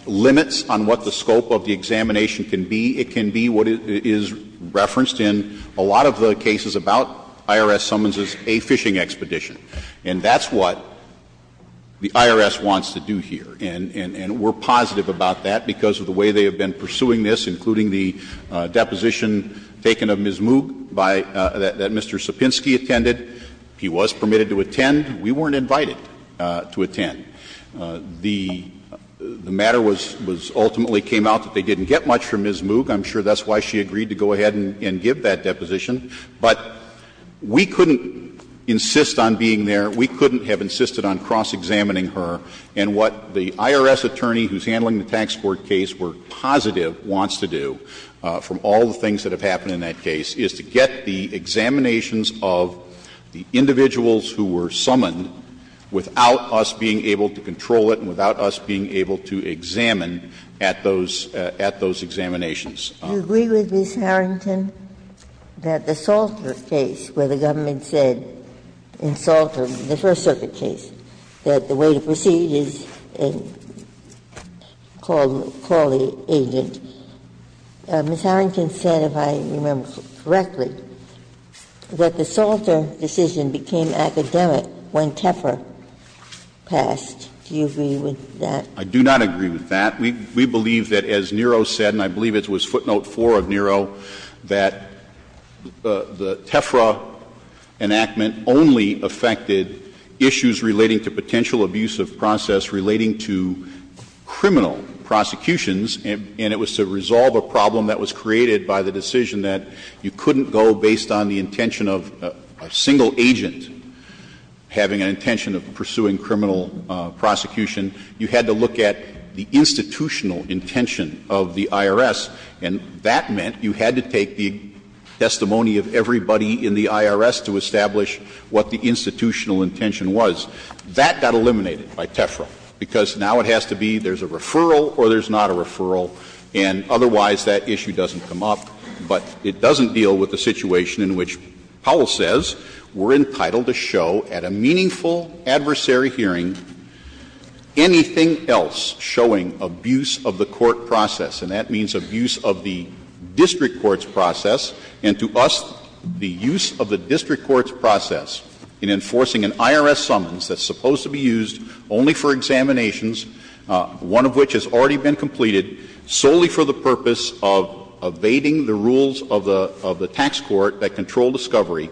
limits on what the scope of the examination can be. It can be what is referenced in a lot of the cases about IRS summonses, a fishing expedition. And that's what the IRS wants to do here. And we're positive about that because of the way they have been pursuing this, including the deposition taken of Ms. Moog by the Mr. Sapinski attended. He was permitted to attend. We weren't invited to attend. The matter was ultimately came out that they didn't get much from Ms. Moog. I'm sure that's why she agreed to go ahead and give that deposition. But we couldn't insist on being there. We couldn't have insisted on cross-examining her. And what the IRS attorney who's handling the tax court case, we're positive, wants to do from all the things that have happened in that case is to get the examinations of the individuals who were summoned without us being able to control it and without us being able to examine at those examinations. Ginsburg. Do you agree with Ms. Harrington that the Salter case, where the government said in Salter, the First Circuit case, that the way to proceed is to call the agent, Ms. Harrington said, if I remember correctly, that the Salter decision became academic when Tepper passed. Do you agree with that? I do not agree with that. We believe that as Nero said, and I believe it was footnote four of Nero, that the Tefra enactment only affected issues relating to potential abuse of process relating to criminal prosecutions. And it was to resolve a problem that was created by the decision that you couldn't go based on the intention of a single agent having an intention of pursuing criminal prosecution, you had to look at the institutional intention of the IRS, and that meant you had to take the testimony of everybody in the IRS to establish what the institutional intention was. That got eliminated by Tefra, because now it has to be there's a referral or there's not a referral, and otherwise that issue doesn't come up. But it doesn't deal with the situation in which Powell says we're entitled to show at a meaningful adversary hearing anything else showing abuse of the court process, and that means abuse of the district court's process. And to us, the use of the district court's process in enforcing an IRS summons that's supposed to be used only for examinations, one of which has already been completed solely for the purpose of evading the rules of the tax court that control discovery,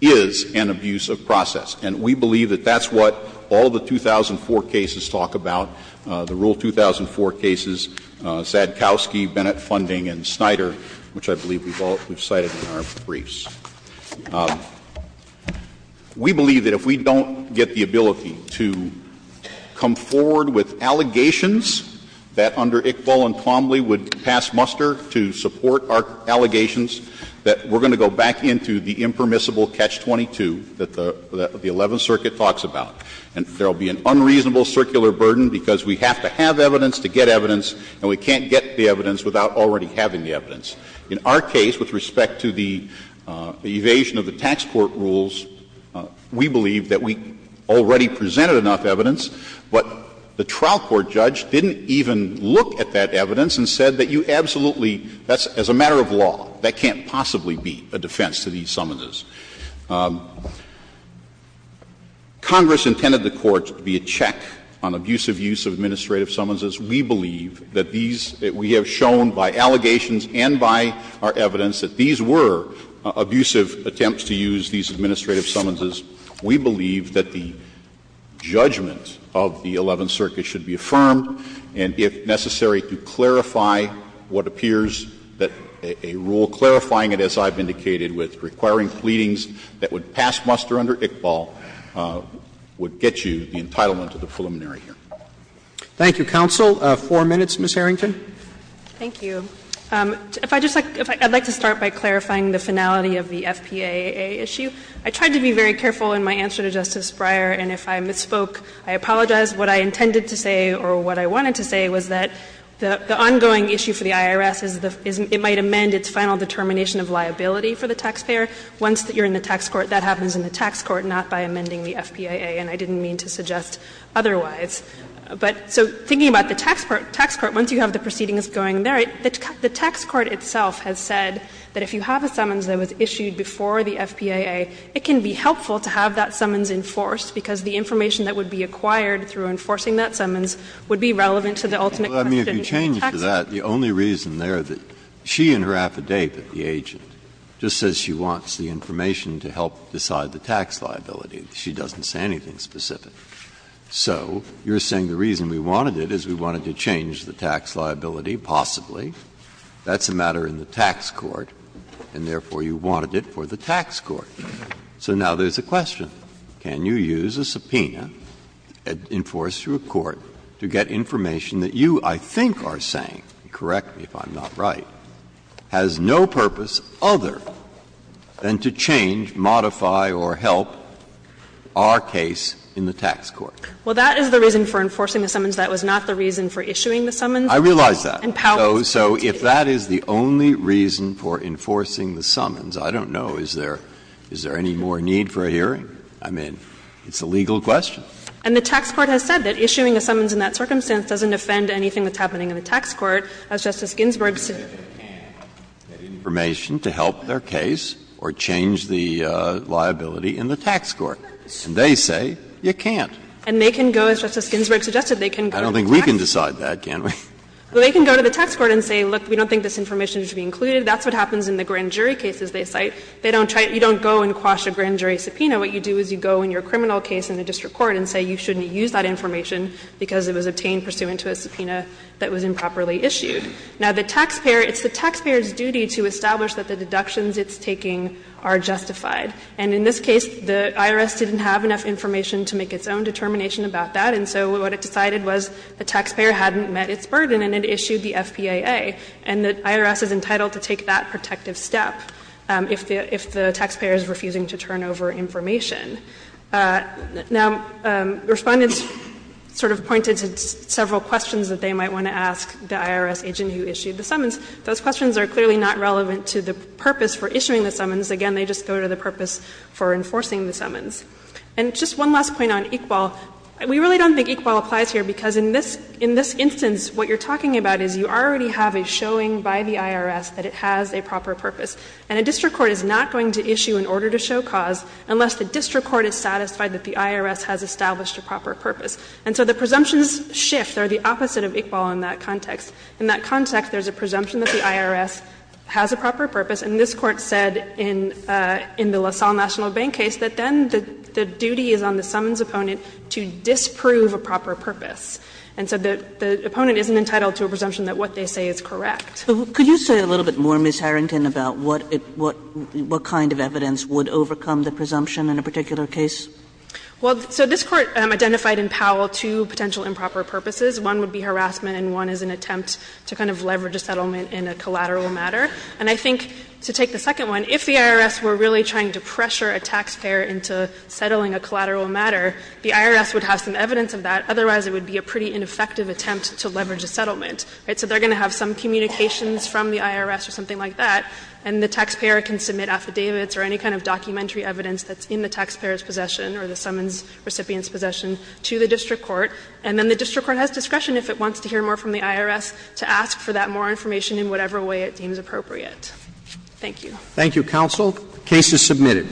is an abuse of process. And we believe that that's what all the 2004 cases talk about, the Rule 2004 cases, Sadkowski, Bennett Funding, and Snyder, which I believe we've all cited in our briefs. We believe that if we don't get the ability to come forward with allegations that under Iqbal and Plomley would pass muster to support our allegations, that we're going to go back into the impermissible Catch-22 that the Eleventh Circuit talks about. And there will be an unreasonable circular burden because we have to have evidence to get evidence, and we can't get the evidence without already having the evidence. In our case, with respect to the evasion of the tax court rules, we believe that we already presented enough evidence, but the trial court judge didn't even look at that evidence and said that you absolutely, that's as a matter of law. That can't possibly be a defense to these summonses. Congress intended the courts to be a check on abusive use of administrative summonses. We believe that these we have shown by allegations and by our evidence that these were abusive attempts to use these administrative summonses. We believe that the judgment of the Eleventh Circuit should be affirmed, and if necessary to clarify what appears that a rule clarifying it, as I've indicated, with requiring pleadings that would pass muster under Iqbal would get you the entitlement of the preliminary hearing. Roberts. Thank you, counsel. Four minutes, Ms. Harrington. Thank you. If I just like, I'd like to start by clarifying the finality of the FPAA issue. I tried to be very careful in my answer to Justice Breyer, and if I misspoke, I apologize. What I intended to say or what I wanted to say was that the ongoing issue for the IRS is the — is it might amend its final determination of liability for the taxpayer once you're in the tax court. That happens in the tax court, not by amending the FPAA, and I didn't mean to suggest otherwise. But so thinking about the tax court, once you have the proceedings going there, the tax court itself has said that if you have a summons that was issued before the FPAA, it can be helpful to have that summons enforced because the information that would be acquired through enforcing that summons would be relevant to the ultimate question of the tax court. Breyer, I mean, if you change it to that, the only reason there that she in her affidavit, the agent, just says she wants the information to help decide the tax liability, she doesn't say anything specific. So you're saying the reason we wanted it is we wanted to change the tax liability, possibly. That's a matter in the tax court, and therefore you wanted it for the tax court. So now there's a question. Can you use a subpoena enforced through a court to get information that you, I think, are saying, correct me if I'm not right, has no purpose other than to change, modify, or help our case in the tax court? Well, that is the reason for enforcing the summons. That was not the reason for issuing the summons. I realize that. So if that is the only reason for enforcing the summons, I don't know, is there any more need for a hearing? I mean, it's a legal question. And the tax court has said that issuing a summons in that circumstance doesn't offend anything that's happening in the tax court, as Justice Ginsburg said. They can get information to help their case or change the liability in the tax court. And they say you can't. And they can go, as Justice Ginsburg suggested, they can go to the tax court. I don't think we can decide that, can we? Well, they can go to the tax court and say, look, we don't think this information should be included. That's what happens in the grand jury cases they cite. They don't try to go and quash a grand jury subpoena. What you do is you go in your criminal case in the district court and say you shouldn't use that information because it was obtained pursuant to a subpoena that was improperly issued. Now, the taxpayer, it's the taxpayer's duty to establish that the deductions it's taking are justified. And in this case, the IRS didn't have enough information to make its own determination about that. And so what it decided was the taxpayer hadn't met its burden and it issued the FPAA. And the IRS is entitled to take that protective step if the taxpayer is refusing to turn over information. Now, Respondents sort of pointed to several questions that they might want to ask the IRS agent who issued the summons. Those questions are clearly not relevant to the purpose for issuing the summons. And just one last point on Iqbal. We really don't think Iqbal applies here because in this instance, what you're talking about is you already have a showing by the IRS that it has a proper purpose. And a district court is not going to issue an order to show cause unless the district court is satisfied that the IRS has established a proper purpose. And so the presumptions shift. They're the opposite of Iqbal in that context. In that context, there's a presumption that the IRS has a proper purpose. And this Court said in the LaSalle National Bank case that then the duty is on the summons opponent to disprove a proper purpose. And so the opponent isn't entitled to a presumption that what they say is correct. Kagan. Kagan. Could you say a little bit more, Ms. Harrington, about what it what what kind of evidence would overcome the presumption in a particular case? Well, so this Court identified in Powell two potential improper purposes. One would be harassment and one is an attempt to kind of leverage a settlement in a collateral matter. And I think, to take the second one, if the IRS were really trying to pressure a taxpayer into settling a collateral matter, the IRS would have some evidence of that, otherwise it would be a pretty ineffective attempt to leverage a settlement. Right? So they're going to have some communications from the IRS or something like that, and the taxpayer can submit affidavits or any kind of documentary evidence that's in the taxpayer's possession or the summons recipient's possession to the district court, and then the district court has discretion if it wants to hear more from the district court or yet. Thank you. Thank you, counsel. The case is submitted.